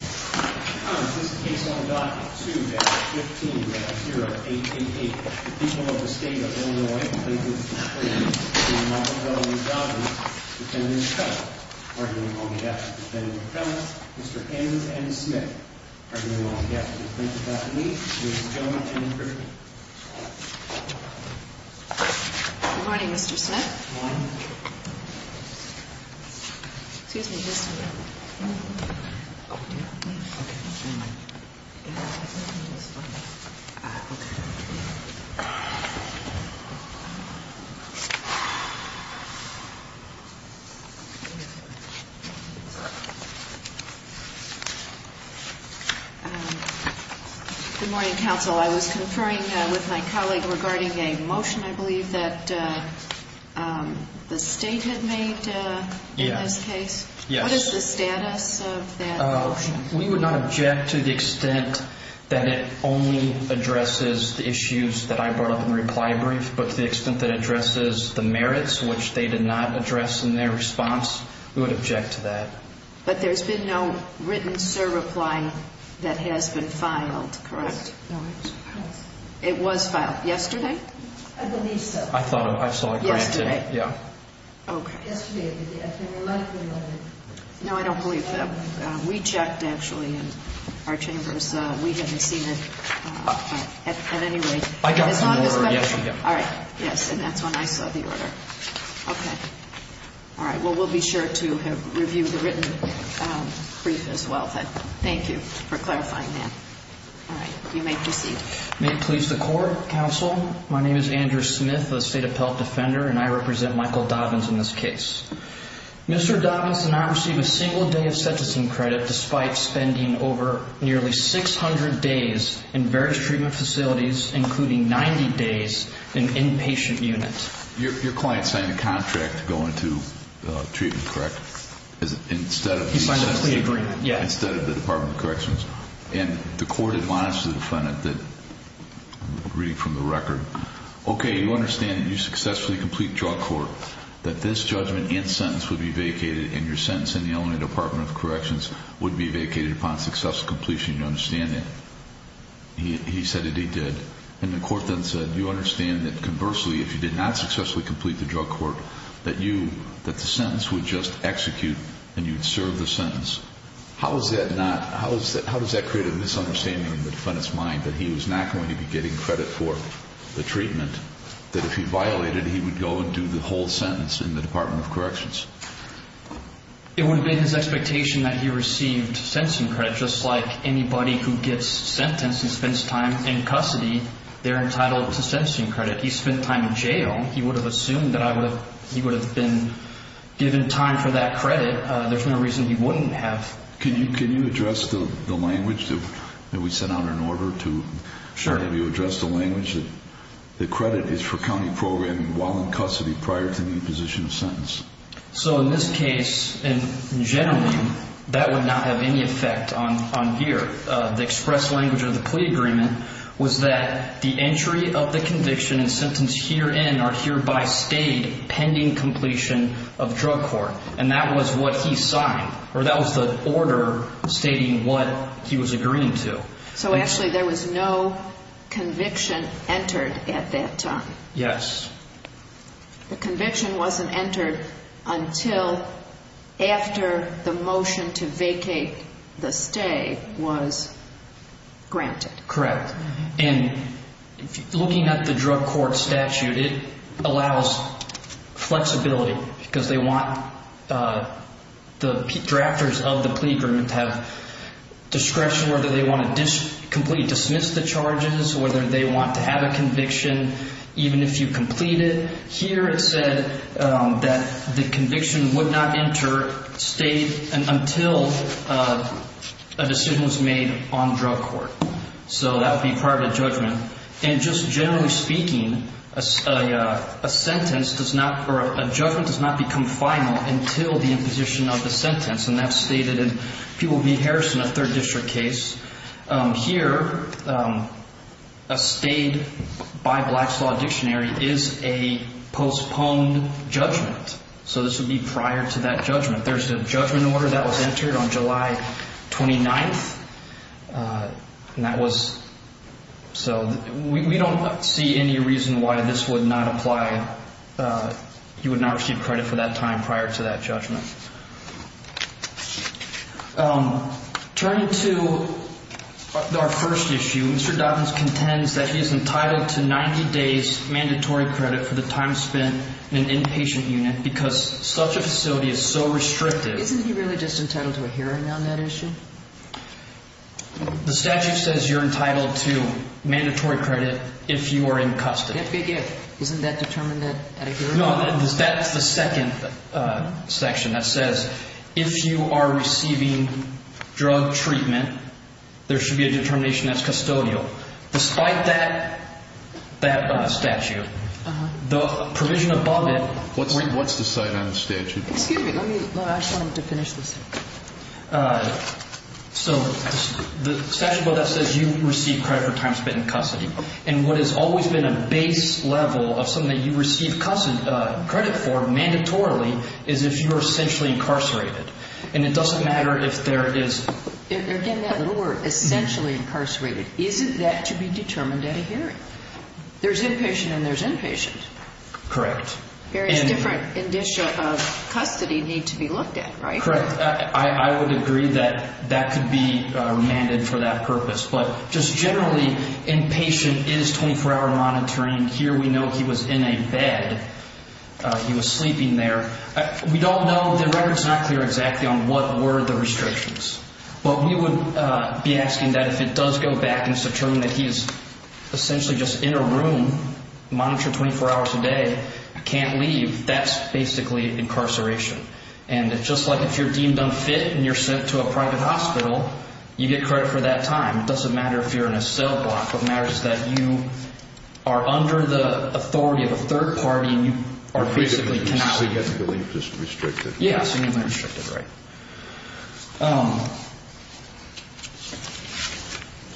2-15-0888. The people of the state of Illinois complain that Mr. Smith and Ms. Dobyns, the defendant's cousin, are being long-deaf to defend the defendant, Mr. Enns and Ms. Smith, are being long-deaf to defend the defendant, Ms. Dobyns, Ms. Dobyns, and Ms. Griffin. Good morning, Mr. Smith. Good morning, Counsel. Counsel, I was conferring with my colleague regarding a motion, I believe, that the state had made in this case. Yes. What is the status of that motion? We would not object to the extent that it only addresses the issues that I brought up in the reply brief, but to the extent that it addresses the merits, which they did not address in their response, we would object to that. But there's been no written, sir, reply that has been filed, correct? No. It was filed yesterday? I believe so. I thought I saw it granted. Yesterday? Yeah. Okay. Yesterday it was granted. No, I don't believe that. We checked, actually, in our chambers. We haven't seen it in any way. I got the order yesterday. All right. Yes, and that's when I saw the order. Okay. All right. Well, we'll be sure to review the written brief as well. Thank you for clarifying that. All right. You may proceed. May it please the Court, Counsel, my name is Andrew Smith, a state appellate defender, and I represent Michael Dobyns in this case. Mr. Dobyns did not receive a single day of sentencing credit despite spending over nearly 600 days in various treatment facilities, including 90 days in inpatient units. Your client signed a contract to go into treatment, correct? He signed a plea agreement, yes. Instead of the Department of Corrections. And the court admonished the defendant that, reading from the record, okay, you understand that you successfully complete drug court, that this judgment and sentence would be vacated, and your sentence in the Illinois Department of Corrections would be vacated upon successful completion. You understand that? He said that he did. And the court then said, you understand that conversely, if you did not successfully complete the drug court, that you, that the sentence would just execute and you would serve the sentence. How is that not, how does that create a misunderstanding in the defendant's mind that he was not going to be getting credit for the treatment, that if he violated, he would go and do the whole sentence in the Department of Corrections? It would have been his expectation that he received sentencing credit, just like anybody who gets sentenced and spends time in custody, they're entitled to sentencing credit. He spent time in jail. He would have assumed that I would have, he would have been given time for that credit. There's no reason he wouldn't have. Can you address the language that we sent out in order to have you address the language that credit is for county programming while in custody prior to the imposition of sentence? So in this case, generally, that would not have any effect on here. The express language of the plea agreement was that the entry of the conviction and sentence herein or hereby stayed pending completion of drug court. And that was what he signed, or that was the order stating what he was agreeing to. So actually there was no conviction entered at that time. Yes. The conviction wasn't entered until after the motion to vacate the stay was granted. Correct. And looking at the drug court statute, it allows flexibility because they want the drafters of the plea agreement to have discretion whether they want to completely dismiss the charges, whether they want to have a conviction, even if you complete it. Here it said that the conviction would not enter state until a decision was made on drug court. So that would be prior to judgment. And just generally speaking, a sentence does not or a judgment does not become final until the imposition of the sentence. And that's stated in People v. Harrison, a third district case. Here, a stayed by Black's Law Dictionary is a postponed judgment. So this would be prior to that judgment. There's a judgment order that was entered on July 29th. And that was so we don't see any reason why this would not apply. You would not receive credit for that time prior to that judgment. Turning to our first issue, Mr. Dobbins contends that he is entitled to 90 days mandatory credit for the time spent in an inpatient unit because such a facility is so restrictive. Isn't he really just entitled to a hearing on that issue? The statute says you're entitled to mandatory credit if you are in custody. Isn't that determined at a hearing? No, that's the second section that says if you are receiving drug treatment, there should be a determination that's custodial. Despite that statute, the provision above it. What's the side on the statute? Excuse me. I just wanted to finish this. So the statute above that says you receive credit for time spent in custody. And what has always been a base level of something that you receive credit for mandatorily is if you are essentially incarcerated. And it doesn't matter if there is. Again, that little word, essentially incarcerated. Isn't that to be determined at a hearing? There's inpatient and there's inpatient. Correct. Various different indicia of custody need to be looked at, right? Correct. I would agree that that could be mandated for that purpose. But just generally, inpatient is 24-hour monitoring. Here we know he was in a bed. He was sleeping there. We don't know. The record's not clear exactly on what were the restrictions. But we would be asking that if it does go back and it's determined that he is essentially just in a room, monitored 24 hours a day, can't leave, that's basically incarceration. And just like if you're deemed unfit and you're sent to a private hospital, you get credit for that time. It doesn't matter if you're in a cell block. What matters is that you are under the authority of a third party and you are basically cannot leave. So you have to believe it's restricted. Yes. Restricted, right.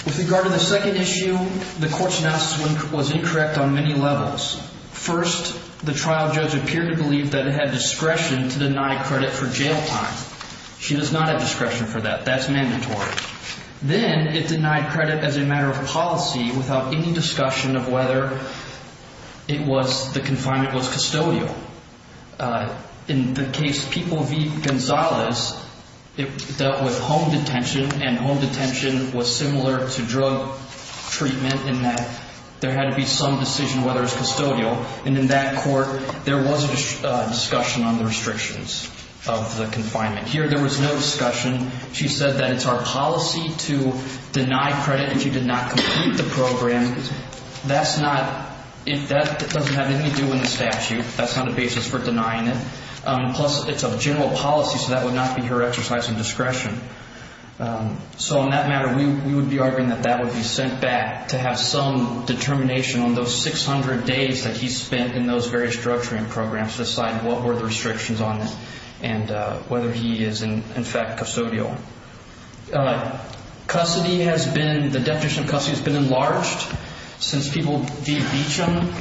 With regard to the second issue, the court's analysis was incorrect on many levels. First, the trial judge appeared to believe that it had discretion to deny credit for jail time. She does not have discretion for that. That's mandatory. Then it denied credit as a matter of policy without any discussion of whether it was the confinement was custodial. In the case People v. Gonzalez, it dealt with home detention and home detention was similar to drug treatment in that there had to be some decision whether it was custodial. And in that court, there was a discussion on the restrictions of the confinement. Here, there was no discussion. She said that it's our policy to deny credit and she did not complete the program. That's not – that doesn't have anything to do with the statute. That's not a basis for denying it. Plus, it's a general policy, so that would not be her exercise of discretion. So on that matter, we would be arguing that that would be sent back to have some determination on those 600 days that he spent in those various drug treatment programs to decide what were the restrictions on it and whether he is, in fact, custodial. Custody has been – the definition of custody has been enlarged since People v. Beecham.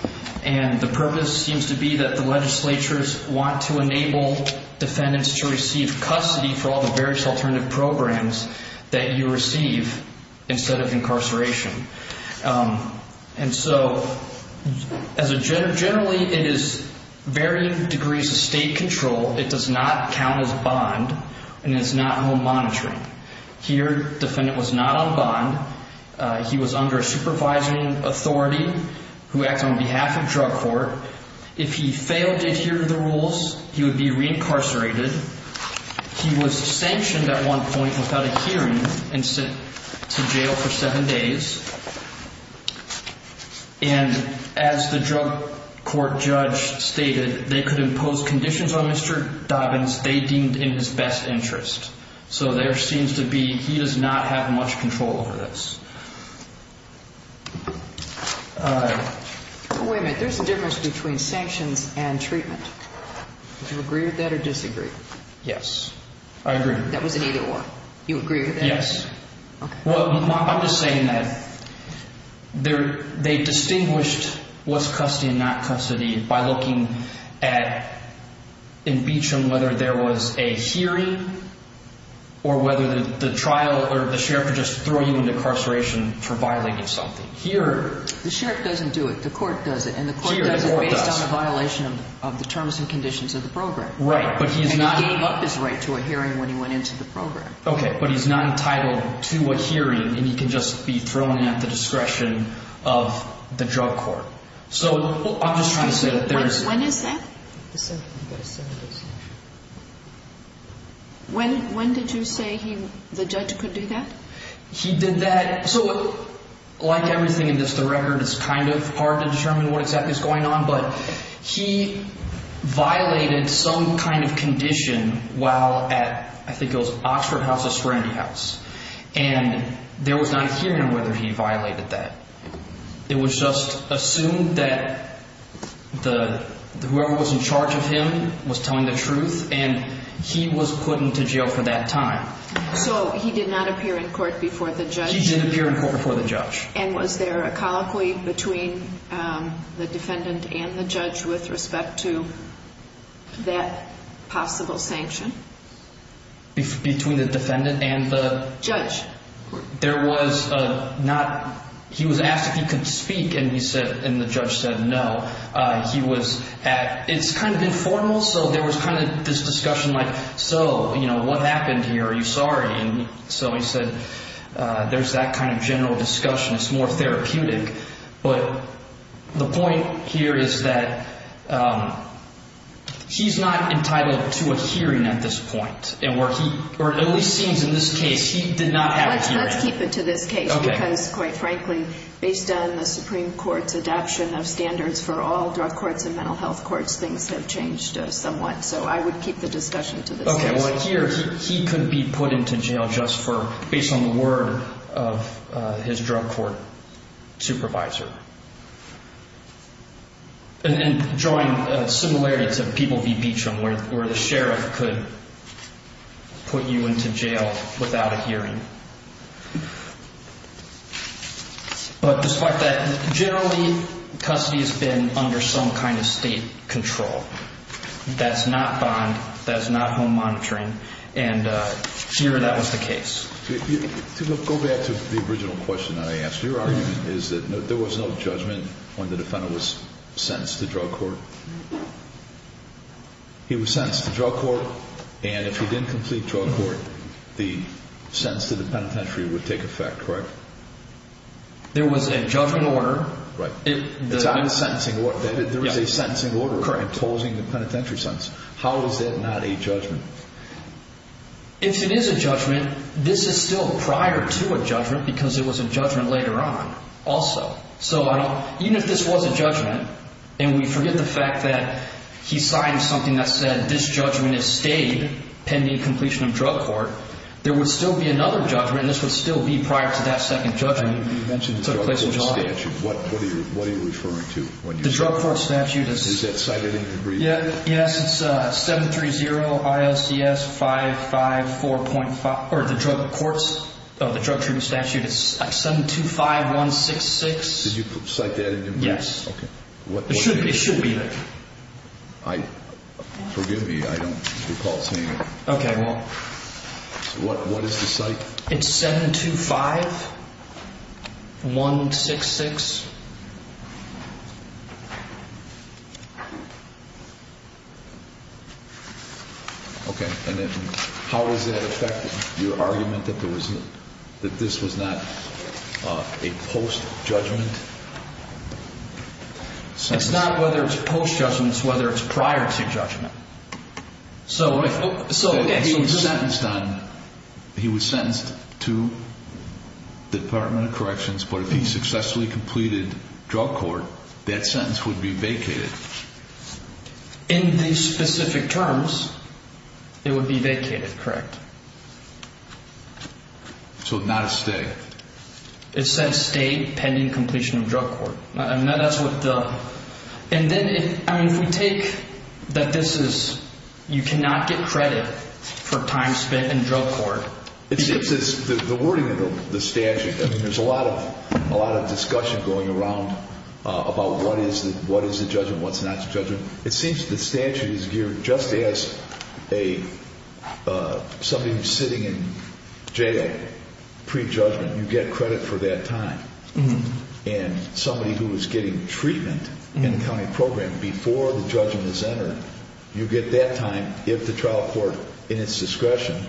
And the purpose seems to be that the legislatures want to enable defendants to receive custody for all the various alternative programs that you receive instead of incarceration. And so as a – generally, it is varying degrees of state control. It does not count as bond and it's not home monitoring. Here, defendant was not on bond. He was under a supervising authority who acts on behalf of drug court. If he failed to adhere to the rules, he would be reincarcerated. He was sanctioned at one point without a hearing and sent to jail for seven days. And as the drug court judge stated, they could impose conditions on Mr. Dobbins they deemed in his best interest. So there seems to be – he does not have much control over this. Wait a minute. There's a difference between sanctions and treatment. Do you agree with that or disagree? Yes. I agree. That was an either-or. You agree with that? Yes. Okay. Well, I'm just saying that they distinguished what's custody and not custody by looking at, in Beecham, whether there was a hearing or whether the trial or the sheriff would just throw you into incarceration for violating something. Here – The sheriff doesn't do it. The court does it. And the court does it based on a violation of the terms and conditions. Right. But he's not – And he gave up his right to a hearing when he went into the program. Okay. But he's not entitled to a hearing and he can just be thrown in at the discretion of the drug court. So I'm just trying to say that there is – When is that? When did you say he – the judge could do that? He did that – so like everything in this, the record is kind of hard to determine what exactly is going on. But he violated some kind of condition while at, I think it was Oxford House or Serenity House. And there was not a hearing on whether he violated that. It was just assumed that whoever was in charge of him was telling the truth, and he was put into jail for that time. So he did not appear in court before the judge? He did appear in court before the judge. And was there a colloquy between the defendant and the judge with respect to that possible sanction? Between the defendant and the – Judge. There was not – he was asked if he could speak, and he said – and the judge said no. He was at – it's kind of informal, so there was kind of this discussion like, so, you know, what happened here? Are you sorry? And so he said there's that kind of general discussion. It's more therapeutic. But the point here is that he's not entitled to a hearing at this point. And where he – or it at least seems in this case he did not have a hearing. Let's keep it to this case because, quite frankly, based on the Supreme Court's adoption of standards for all drug courts and mental health courts, things have changed somewhat. So I would keep the discussion to this case. Okay. Well, here he could be put into jail just for – based on the word of his drug court supervisor. And drawing similarity to People v. Beecham where the sheriff could put you into jail without a hearing. But despite that, generally custody has been under some kind of state control. That's not bond. That's not home monitoring. And here that was the case. To go back to the original question that I asked, your argument is that there was no judgment when the defendant was sentenced to drug court? He was sentenced to drug court. And if he didn't complete drug court, the sentence to the penitentiary would take effect, correct? There was a judgment order. Right. There was a sentencing order imposing the penitentiary sentence. How is that not a judgment? If it is a judgment, this is still prior to a judgment because it was a judgment later on also. So even if this was a judgment and we forget the fact that he signed something that said this judgment is stayed pending completion of drug court, there would still be another judgment and this would still be prior to that second judgment. You mentioned the drug court statute. What are you referring to? The drug court statute. Is that cited in your brief? Yes. It's 730 ILCS 554.5 or the drug courts, the drug treatment statute. It's 725166. Did you cite that in your brief? Yes. It should be there. Forgive me. I don't recall seeing it. Okay. Well. What is the cite? It's 725166. Okay. And then how was that affected? Your argument that this was not a post-judgment? It's not whether it's post-judgment. It's whether it's prior to judgment. He was sentenced to the Department of Corrections, but if he successfully completed drug court, that sentence would be vacated. In these specific terms, it would be vacated, correct? So not a stay. It says stay pending completion of drug court. And then if we take that this is you cannot get credit for time spent in drug court. The wording of the statute, there's a lot of discussion going around about what is the judgment, what's not the judgment. It seems the statute is geared just as somebody who's sitting in jail pre-judgment. You get credit for that time. And somebody who is getting treatment in the county program before the judgment is entered. You get that time if the trial court, in its discretion,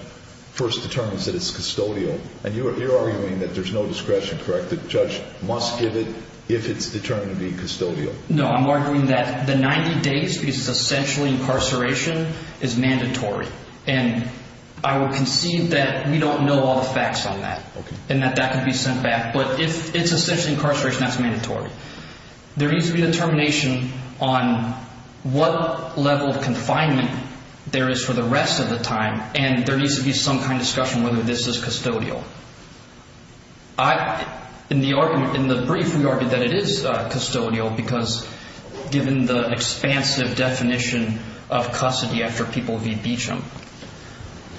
first determines that it's custodial. And you're arguing that there's no discretion, correct? The judge must give it if it's determined to be custodial. No, I'm arguing that the 90 days, because it's essentially incarceration, is mandatory. And I would concede that we don't know all the facts on that and that that could be sent back. But if it's essentially incarceration, that's mandatory. There needs to be determination on what level of confinement there is for the rest of the time. And there needs to be some kind of discussion whether this is custodial. In the argument, in the brief, we argued that it is custodial because given the expansive definition of custody after people v. Beecham.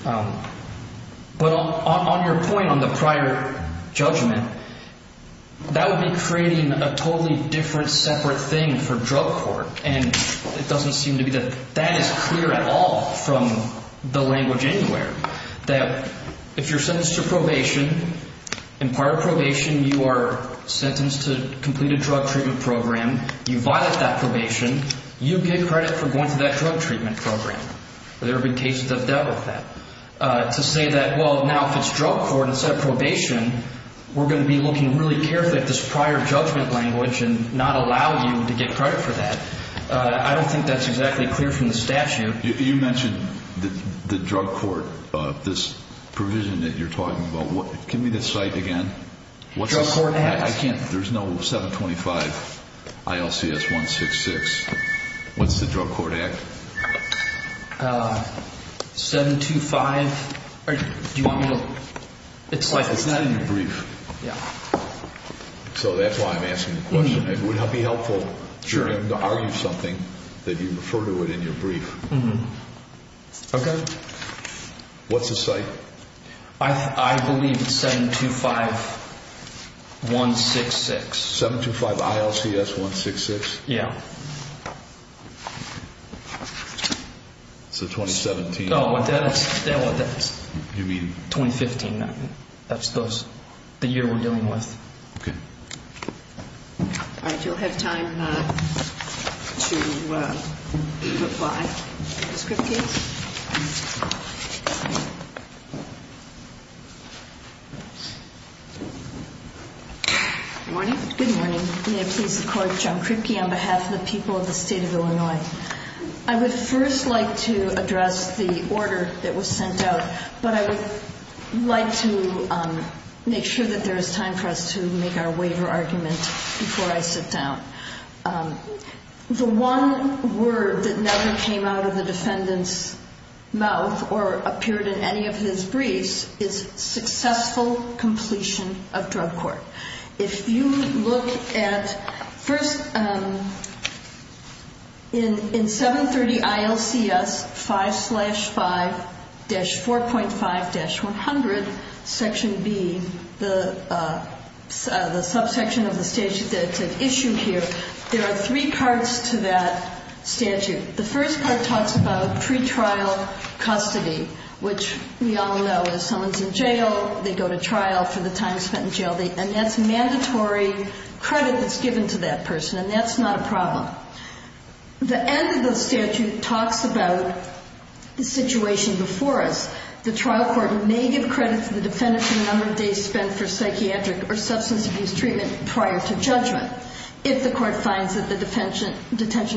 But on your point on the prior judgment, that would be creating a totally different, separate thing for drug court. And it doesn't seem to be that that is clear at all from the language anywhere. That if you're sentenced to probation, in prior probation you are sentenced to complete a drug treatment program. You violate that probation. You get credit for going through that drug treatment program. There have been cases of that. To say that, well, now if it's drug court instead of probation, we're going to be looking really carefully at this prior judgment language and not allow you to get credit for that. I don't think that's exactly clear from the statute. You mentioned the drug court, this provision that you're talking about. Give me the site again. Drug Court Act. There's no 725 ILCS 166. What's the Drug Court Act? 725. Do you want me to? It's not in your brief. Yeah. So that's why I'm asking the question. It would be helpful to argue something that you refer to it in your brief. Okay. What's the site? I believe it's 725 166. 725 ILCS 166? Yeah. So 2017. Oh, that's 2015. That's the year we're dealing with. Okay. All right. You'll have time to reply. Ms. Kripke? Good morning. Good morning. May it please the Court, John Kripke on behalf of the people of the State of Illinois. I would first like to address the order that was sent out, but I would like to make sure that there is time for us to make our waiver argument before I sit down. The one word that never came out of the defendant's mouth or appeared in any of his briefs is successful completion of drug court. If you look at first in 730 ILCS 5-5-4.5-100, Section B, the subsection of the statute that's issued here, there are three parts to that statute. The first part talks about pretrial custody, which we all know is someone's in jail, they go to trial for the time spent in jail, and that's mandatory credit that's given to that person, and that's not a problem. The end of the statute talks about the situation before us. The trial court may give credit to the defendant for the number of days spent for psychiatric or substance abuse treatment prior to judgment if the court finds that the detention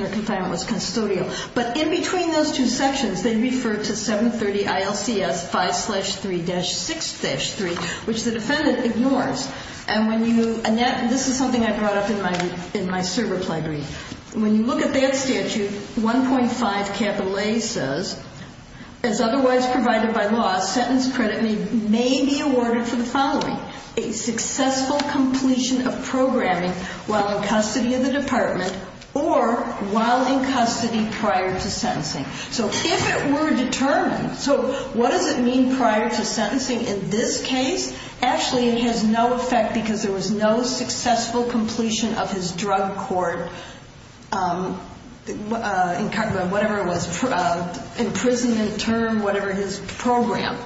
or confinement was custodial. But in between those two sections, they refer to 730 ILCS 5-3-6-3, which the defendant ignores. And this is something I brought up in my server play brief. When you look at that statute, 1.5 capital A says, as otherwise provided by law, sentence credit may be awarded for the following, a successful completion of programming while in custody of the department or while in custody prior to sentencing. So if it were determined, so what does it mean prior to sentencing in this case? Actually, it has no effect because there was no successful completion of his drug court, whatever it was, imprisonment term, whatever his program.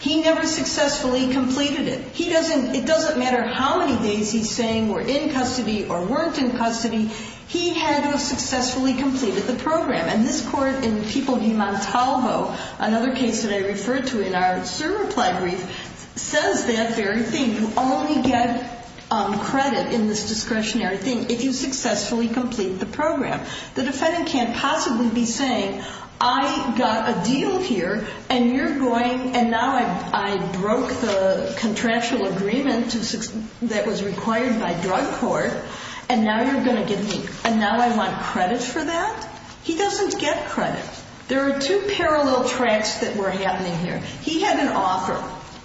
He never successfully completed it. It doesn't matter how many days he's saying were in custody or weren't in custody. He had to have successfully completed the program. And this court in Tepulgi-Montalvo, another case that I referred to in our server play brief, says that very thing. You only get credit in this discretionary thing if you successfully complete the program. The defendant can't possibly be saying, I got a deal here and now I broke the contractual agreement that was required by drug court and now I want credit for that. He doesn't get credit. There are two parallel tracks that were happening here. He had an offer.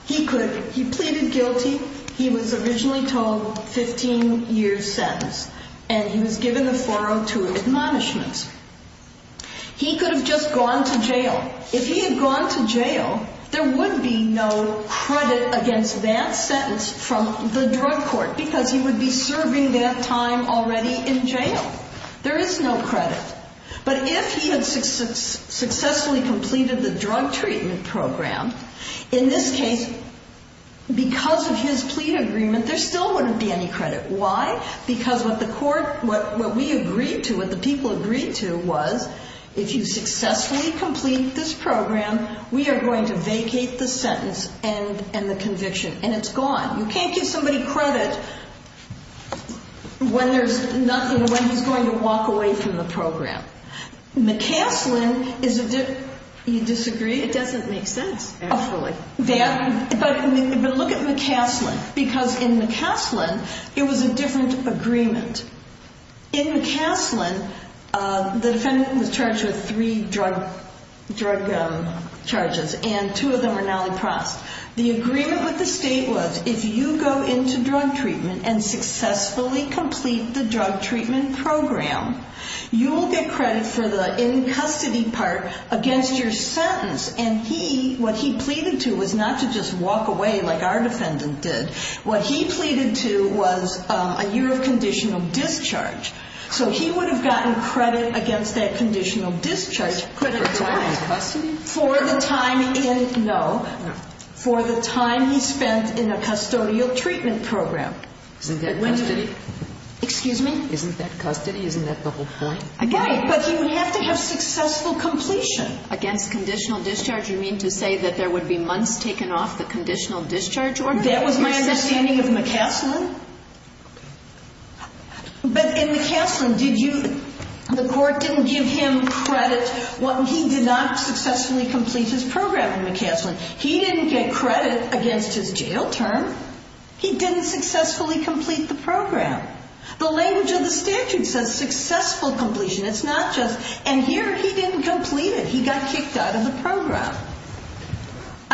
He pleaded guilty. He was originally told 15 years sentence. And he was given the 402 admonishments. He could have just gone to jail. If he had gone to jail, there would be no credit against that sentence from the drug court because he would be serving that time already in jail. There is no credit. But if he had successfully completed the drug treatment program, in this case, because of his plea agreement, there still wouldn't be any credit. Why? Because what the court, what we agreed to, what the people agreed to, was if you successfully complete this program, we are going to vacate the sentence and the conviction. And it's gone. You can't give somebody credit when there's nothing, when he's going to walk away from the program. McCaslin is a different, you disagree? It doesn't make sense, actually. But look at McCaslin. Because in McCaslin, it was a different agreement. In McCaslin, the defendant was charged with three drug charges, and two of them were non-repressed. The agreement with the state was if you go into drug treatment and successfully complete the drug treatment program, you will get credit for the in-custody part against your sentence. And he, what he pleaded to was not to just walk away like our defendant did. What he pleaded to was a year of conditional discharge. So he would have gotten credit against that conditional discharge. For time in custody? For the time in, no, for the time he spent in a custodial treatment program. Isn't that custody? Excuse me? Isn't that custody? Isn't that the whole point? Right. But he would have to have successful completion. Against conditional discharge, you mean to say that there would be months taken off the conditional discharge order? That was my understanding of McCaslin. But in McCaslin, did you, the court didn't give him credit. He did not successfully complete his program in McCaslin. He didn't get credit against his jail term. He didn't successfully complete the program. The language of the statute says successful completion. It's not just, and here he didn't complete it. He got kicked out of the program.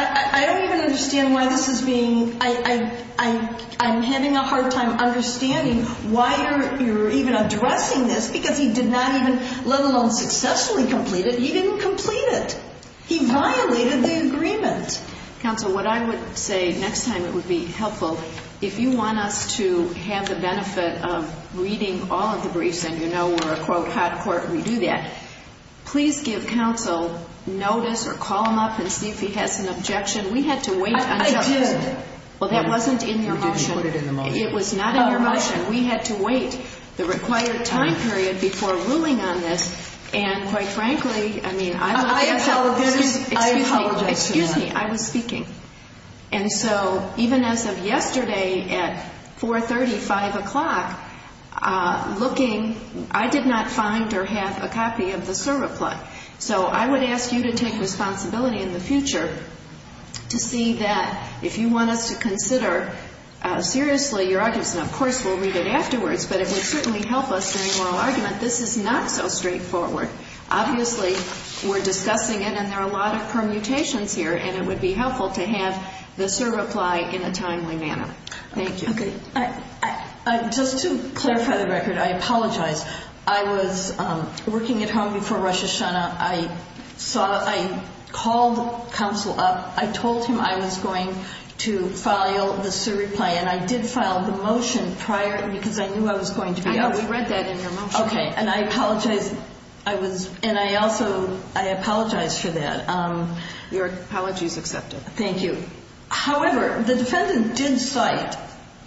I don't even understand why this is being, I'm having a hard time understanding why you're even addressing this because he did not even, let alone successfully complete it, he didn't complete it. He violated the agreement. Counsel, what I would say next time it would be helpful, if you want us to have the benefit of reading all of the briefs and you know we're a, quote, court and we do that, please give counsel notice or call him up and see if he has an objection. We had to wait until. I did. Well, that wasn't in your motion. You didn't put it in the motion. It was not in your motion. We had to wait the required time period before ruling on this. And quite frankly, I mean, I'm looking at. I apologize. Excuse me. I apologize. Excuse me. I was speaking. And so even as of yesterday at 4.30, 5 o'clock, looking, I did not find or have a copy of the cert reply. So I would ask you to take responsibility in the future to see that if you want us to consider seriously your arguments, and of course we'll read it afterwards, but it would certainly help us in a moral argument. This is not so straightforward. Obviously we're discussing it and there are a lot of permutations here and it would be helpful to have the cert reply in a timely manner. Thank you. Okay. Just to clarify the record, I apologize. I was working at home before Rosh Hashanah. I called counsel up. I told him I was going to file the cert reply and I did file the motion prior because I knew I was going to be offered. I know. We read that in your motion. Okay. And I apologize. And I also apologize for that. Your apology is accepted. Thank you. However, the defendant did cite.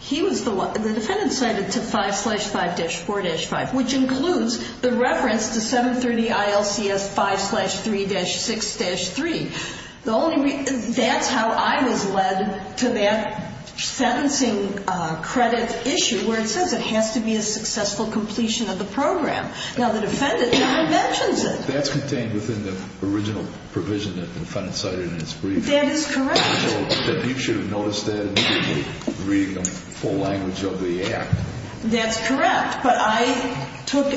The defendant cited to 5-5-4-5, which includes the reference to 730 ILCS 5-3-6-3. That's how I was led to that sentencing credit issue where it says it has to be a successful completion of the program. Now the defendant never mentions it. That's contained within the original provision that the defendant cited in its brief. That is correct. I know that you should have noticed that in reading the full language of the act. That's correct. But I took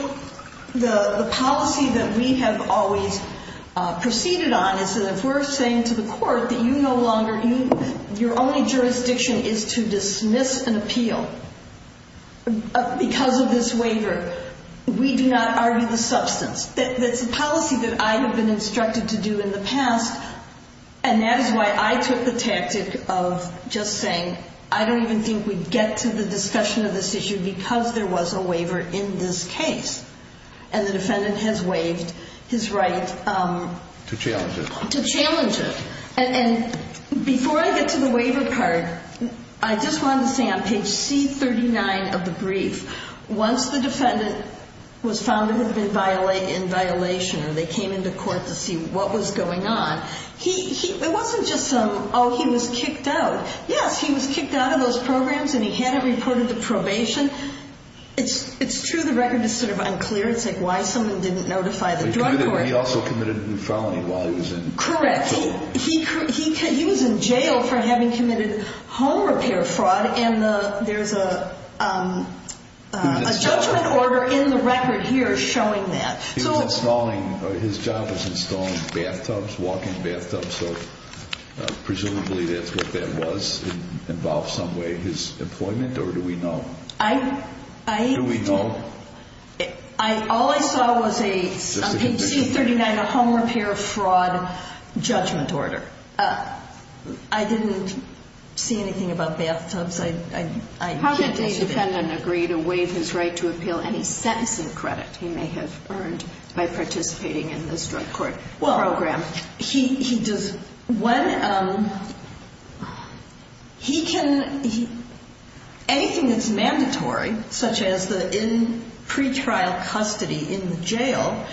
the policy that we have always proceeded on, is that if we're saying to the court that you no longer, your only jurisdiction is to dismiss an appeal because of this waiver, we do not argue the substance. That's a policy that I have been instructed to do in the past, and that is why I took the tactic of just saying I don't even think we'd get to the discussion of this issue because there was a waiver in this case. And the defendant has waived his right. To challenge it. To challenge it. And before I get to the waiver card, I just wanted to say on page C-39 of the brief, once the defendant was found to have been in violation, or they came into court to see what was going on, it wasn't just, oh, he was kicked out. Yes, he was kicked out of those programs and he hadn't reported to probation. It's true the record is sort of unclear. It's like why someone didn't notify the drug court. He also committed a felony while he was in probation. Correct. He was in jail for having committed home repair fraud, and there's a judgment order in the record here showing that. His job was installing bathtubs, walking bathtubs, so presumably that's what that was. It involved some way his employment, or do we know? Do we know? All I saw was a, on page C-39, a home repair fraud judgment order. I didn't see anything about bathtubs. How did the defendant agree to waive his right to appeal any sentencing credit he may have earned by participating in this drug court program? Anything that's mandatory, such as the pretrial custody in jail,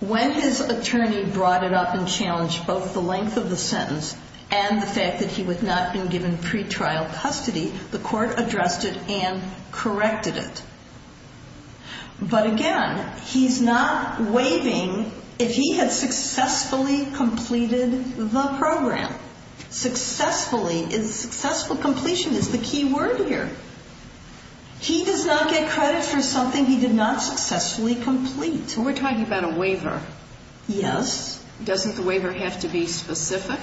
when his attorney brought it up and challenged both the length of the sentence and the fact that he would not have been given pretrial custody, the court addressed it and corrected it. But again, he's not waiving if he had successfully completed the program. Successfully is successful completion is the key word here. He does not get credit for something he did not successfully complete. We're talking about a waiver. Yes. Doesn't the waiver have to be specific?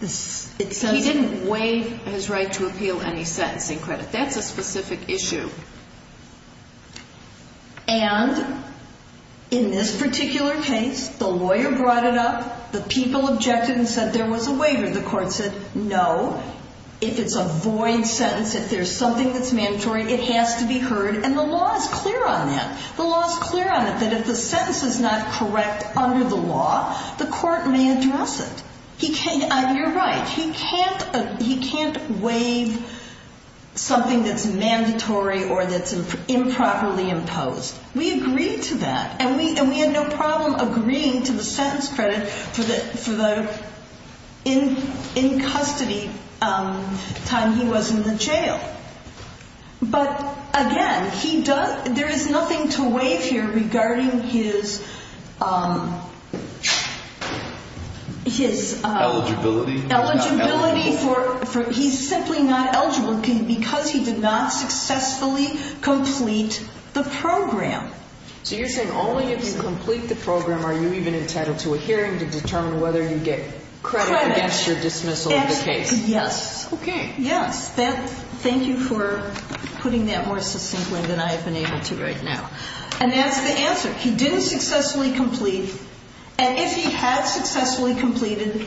He didn't waive his right to appeal any sentencing credit. That's a specific issue. And in this particular case, the lawyer brought it up, the people objected and said there was a waiver. The court said, no, if it's a void sentence, if there's something that's mandatory, it has to be heard, and the law is clear on that. The law is clear on it that if the sentence is not correct under the law, the court may address it. You're right. He can't waive something that's mandatory or that's improperly imposed. We agreed to that, and we had no problem agreeing to the sentence credit for the in-custody time he was in the jail. But, again, there is nothing to waive here regarding his eligibility. He's simply not eligible because he did not successfully complete the program. So you're saying only if you complete the program are you even entitled to a hearing to determine whether you get credit against your dismissal of the case? Yes. Okay. Yes. Thank you for putting that more succinctly than I have been able to right now. And that's the answer. He didn't successfully complete. And if he had successfully completed,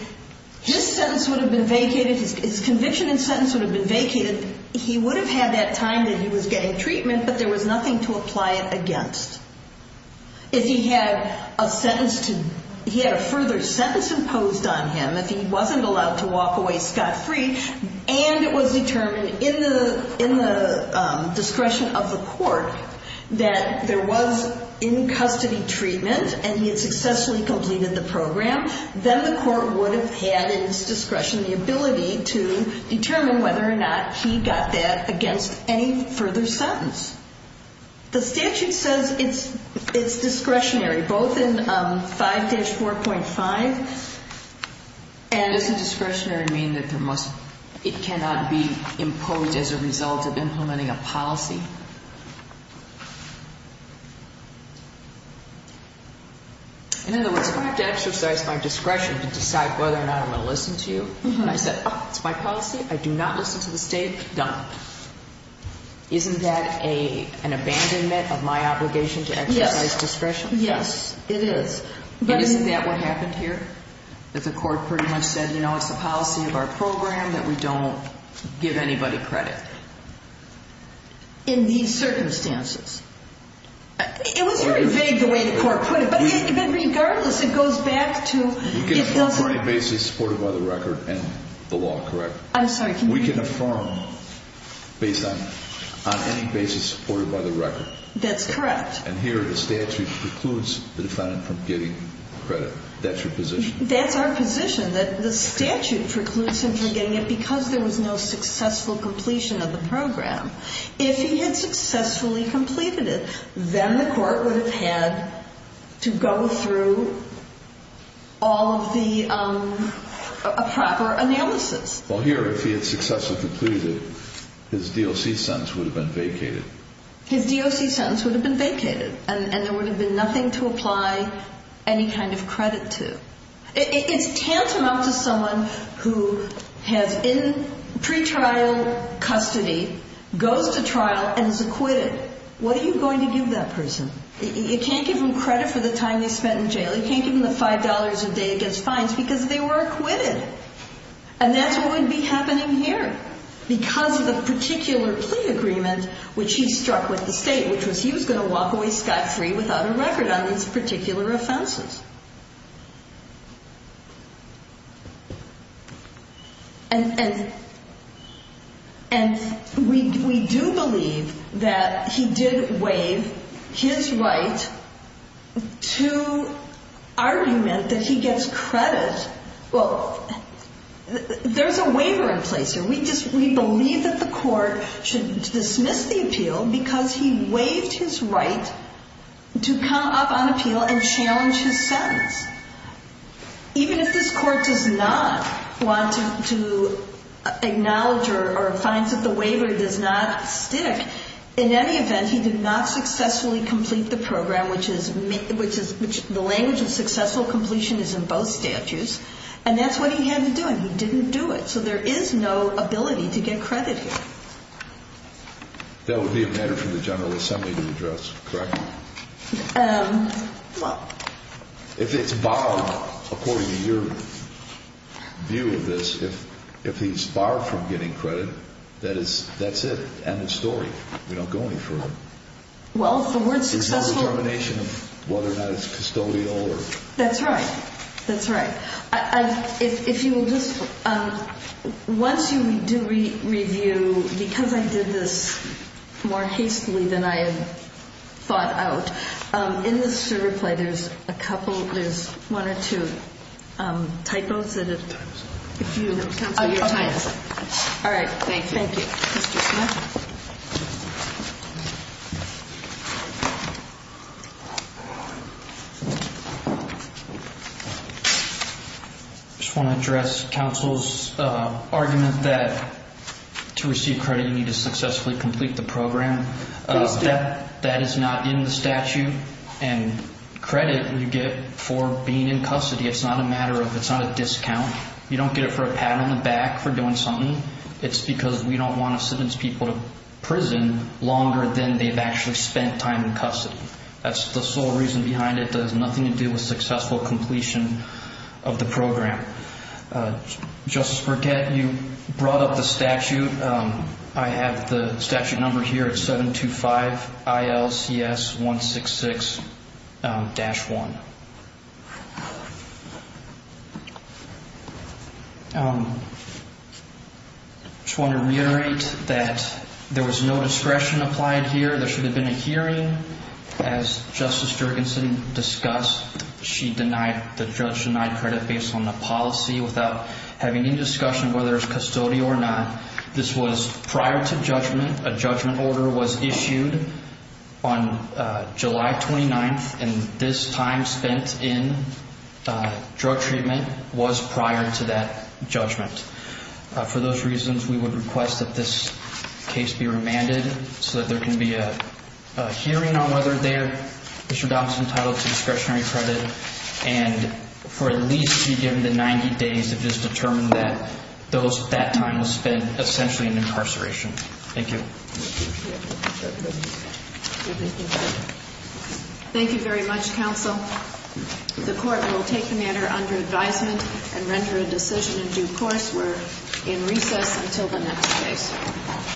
his conviction and sentence would have been vacated. He would have had that time that he was getting treatment, but there was nothing to apply it against. If he had a further sentence imposed on him, if he wasn't allowed to walk away scot-free, and it was determined in the discretion of the court that there was in-custody treatment and he had successfully completed the program, then the court would have had in its discretion the ability to determine whether or not he got that against any further sentence. The statute says it's discretionary, both in 5-4.5. Does the discretionary mean that it cannot be imposed as a result of implementing a policy? In other words, if I have to exercise my discretion to decide whether or not I'm going to listen to you, and I said, oh, it's my policy, I do not listen to the State, done. Isn't that an abandonment of my obligation to exercise discretion? Yes. Yes, it is. But isn't that what happened here? That the court pretty much said, you know, it's the policy of our program that we don't give anybody credit? In these circumstances. It was very vague the way the court put it, but regardless, it goes back to... We can affirm on any basis supported by the record and the law, correct? I'm sorry, can you... We can affirm based on any basis supported by the record? That's correct. And here the statute precludes the defendant from getting credit. That's your position? That's our position, that the statute precludes him from getting it because there was no successful completion of the program. If he had successfully completed it, then the court would have had to go through all of the proper analysis. Well, here, if he had successfully completed it, his DOC sentence would have been vacated. His DOC sentence would have been vacated, and there would have been nothing to apply any kind of credit to. It's tantamount to someone who has in pre-trial custody, goes to trial, and is acquitted. What are you going to give that person? You can't give them credit for the time they spent in jail. You can't give them the $5 a day against fines because they were acquitted. And that's what would be happening here because of the particular plea agreement which he struck with the state, which was he was going to walk away scot-free without a record on these particular offenses. And we do believe that he did waive his right to argument that he gets credit. Well, there's a waiver in place here. We believe that the court should dismiss the appeal because he waived his right to come up on appeal and challenge his sentence. Even if this court does not want to acknowledge or finds that the waiver does not stick, in any event, he did not successfully complete the program, which the language of successful completion is in both statutes, and that's what he had to do, and he didn't do it. So there is no ability to get credit here. That would be a matter for the General Assembly to address, correct? Well... If it's barred, according to your view of this, if he's barred from getting credit, that's it, end of story. We don't go any further. Well, the word successful... There's no determination of whether or not it's custodial or... That's right. That's right. If you will just... Once you do review, because I did this more hastily than I had thought out, in the server play, there's a couple, there's one or two typos that if you... Times. Oh, your times. All right. Thank you. Thank you. I just want to address counsel's argument that to receive credit, you need to successfully complete the program. That is not in the statute, and credit you get for being in custody. It's not a matter of, it's not a discount. You don't get it for a pat on the back for doing something. It's because we don't want to sentence people to prison longer than they've actually spent time in custody. That's the sole reason behind it. It has nothing to do with successful completion of the program. Justice Burgett, you brought up the statute. I have the statute number here. It's 725-ILCS-166-1. I just want to reiterate that there was no discretion applied here. There should have been a hearing. As Justice Jergensen discussed, she denied, the judge denied credit based on the policy without having any discussion whether it's custodial or not. This was prior to judgment. A judgment order was issued on July 29th, and this time spent in drug treatment was prior to that judgment. For those reasons, we would request that this case be remanded so that there can be a hearing on whether there is or not some title to discretionary credit, and for at least to be given the 90 days to just determine that that time was spent essentially in incarceration. Thank you. Thank you very much, counsel. The court will take the matter under advisement and render a decision in due course. We're in recess until the next case.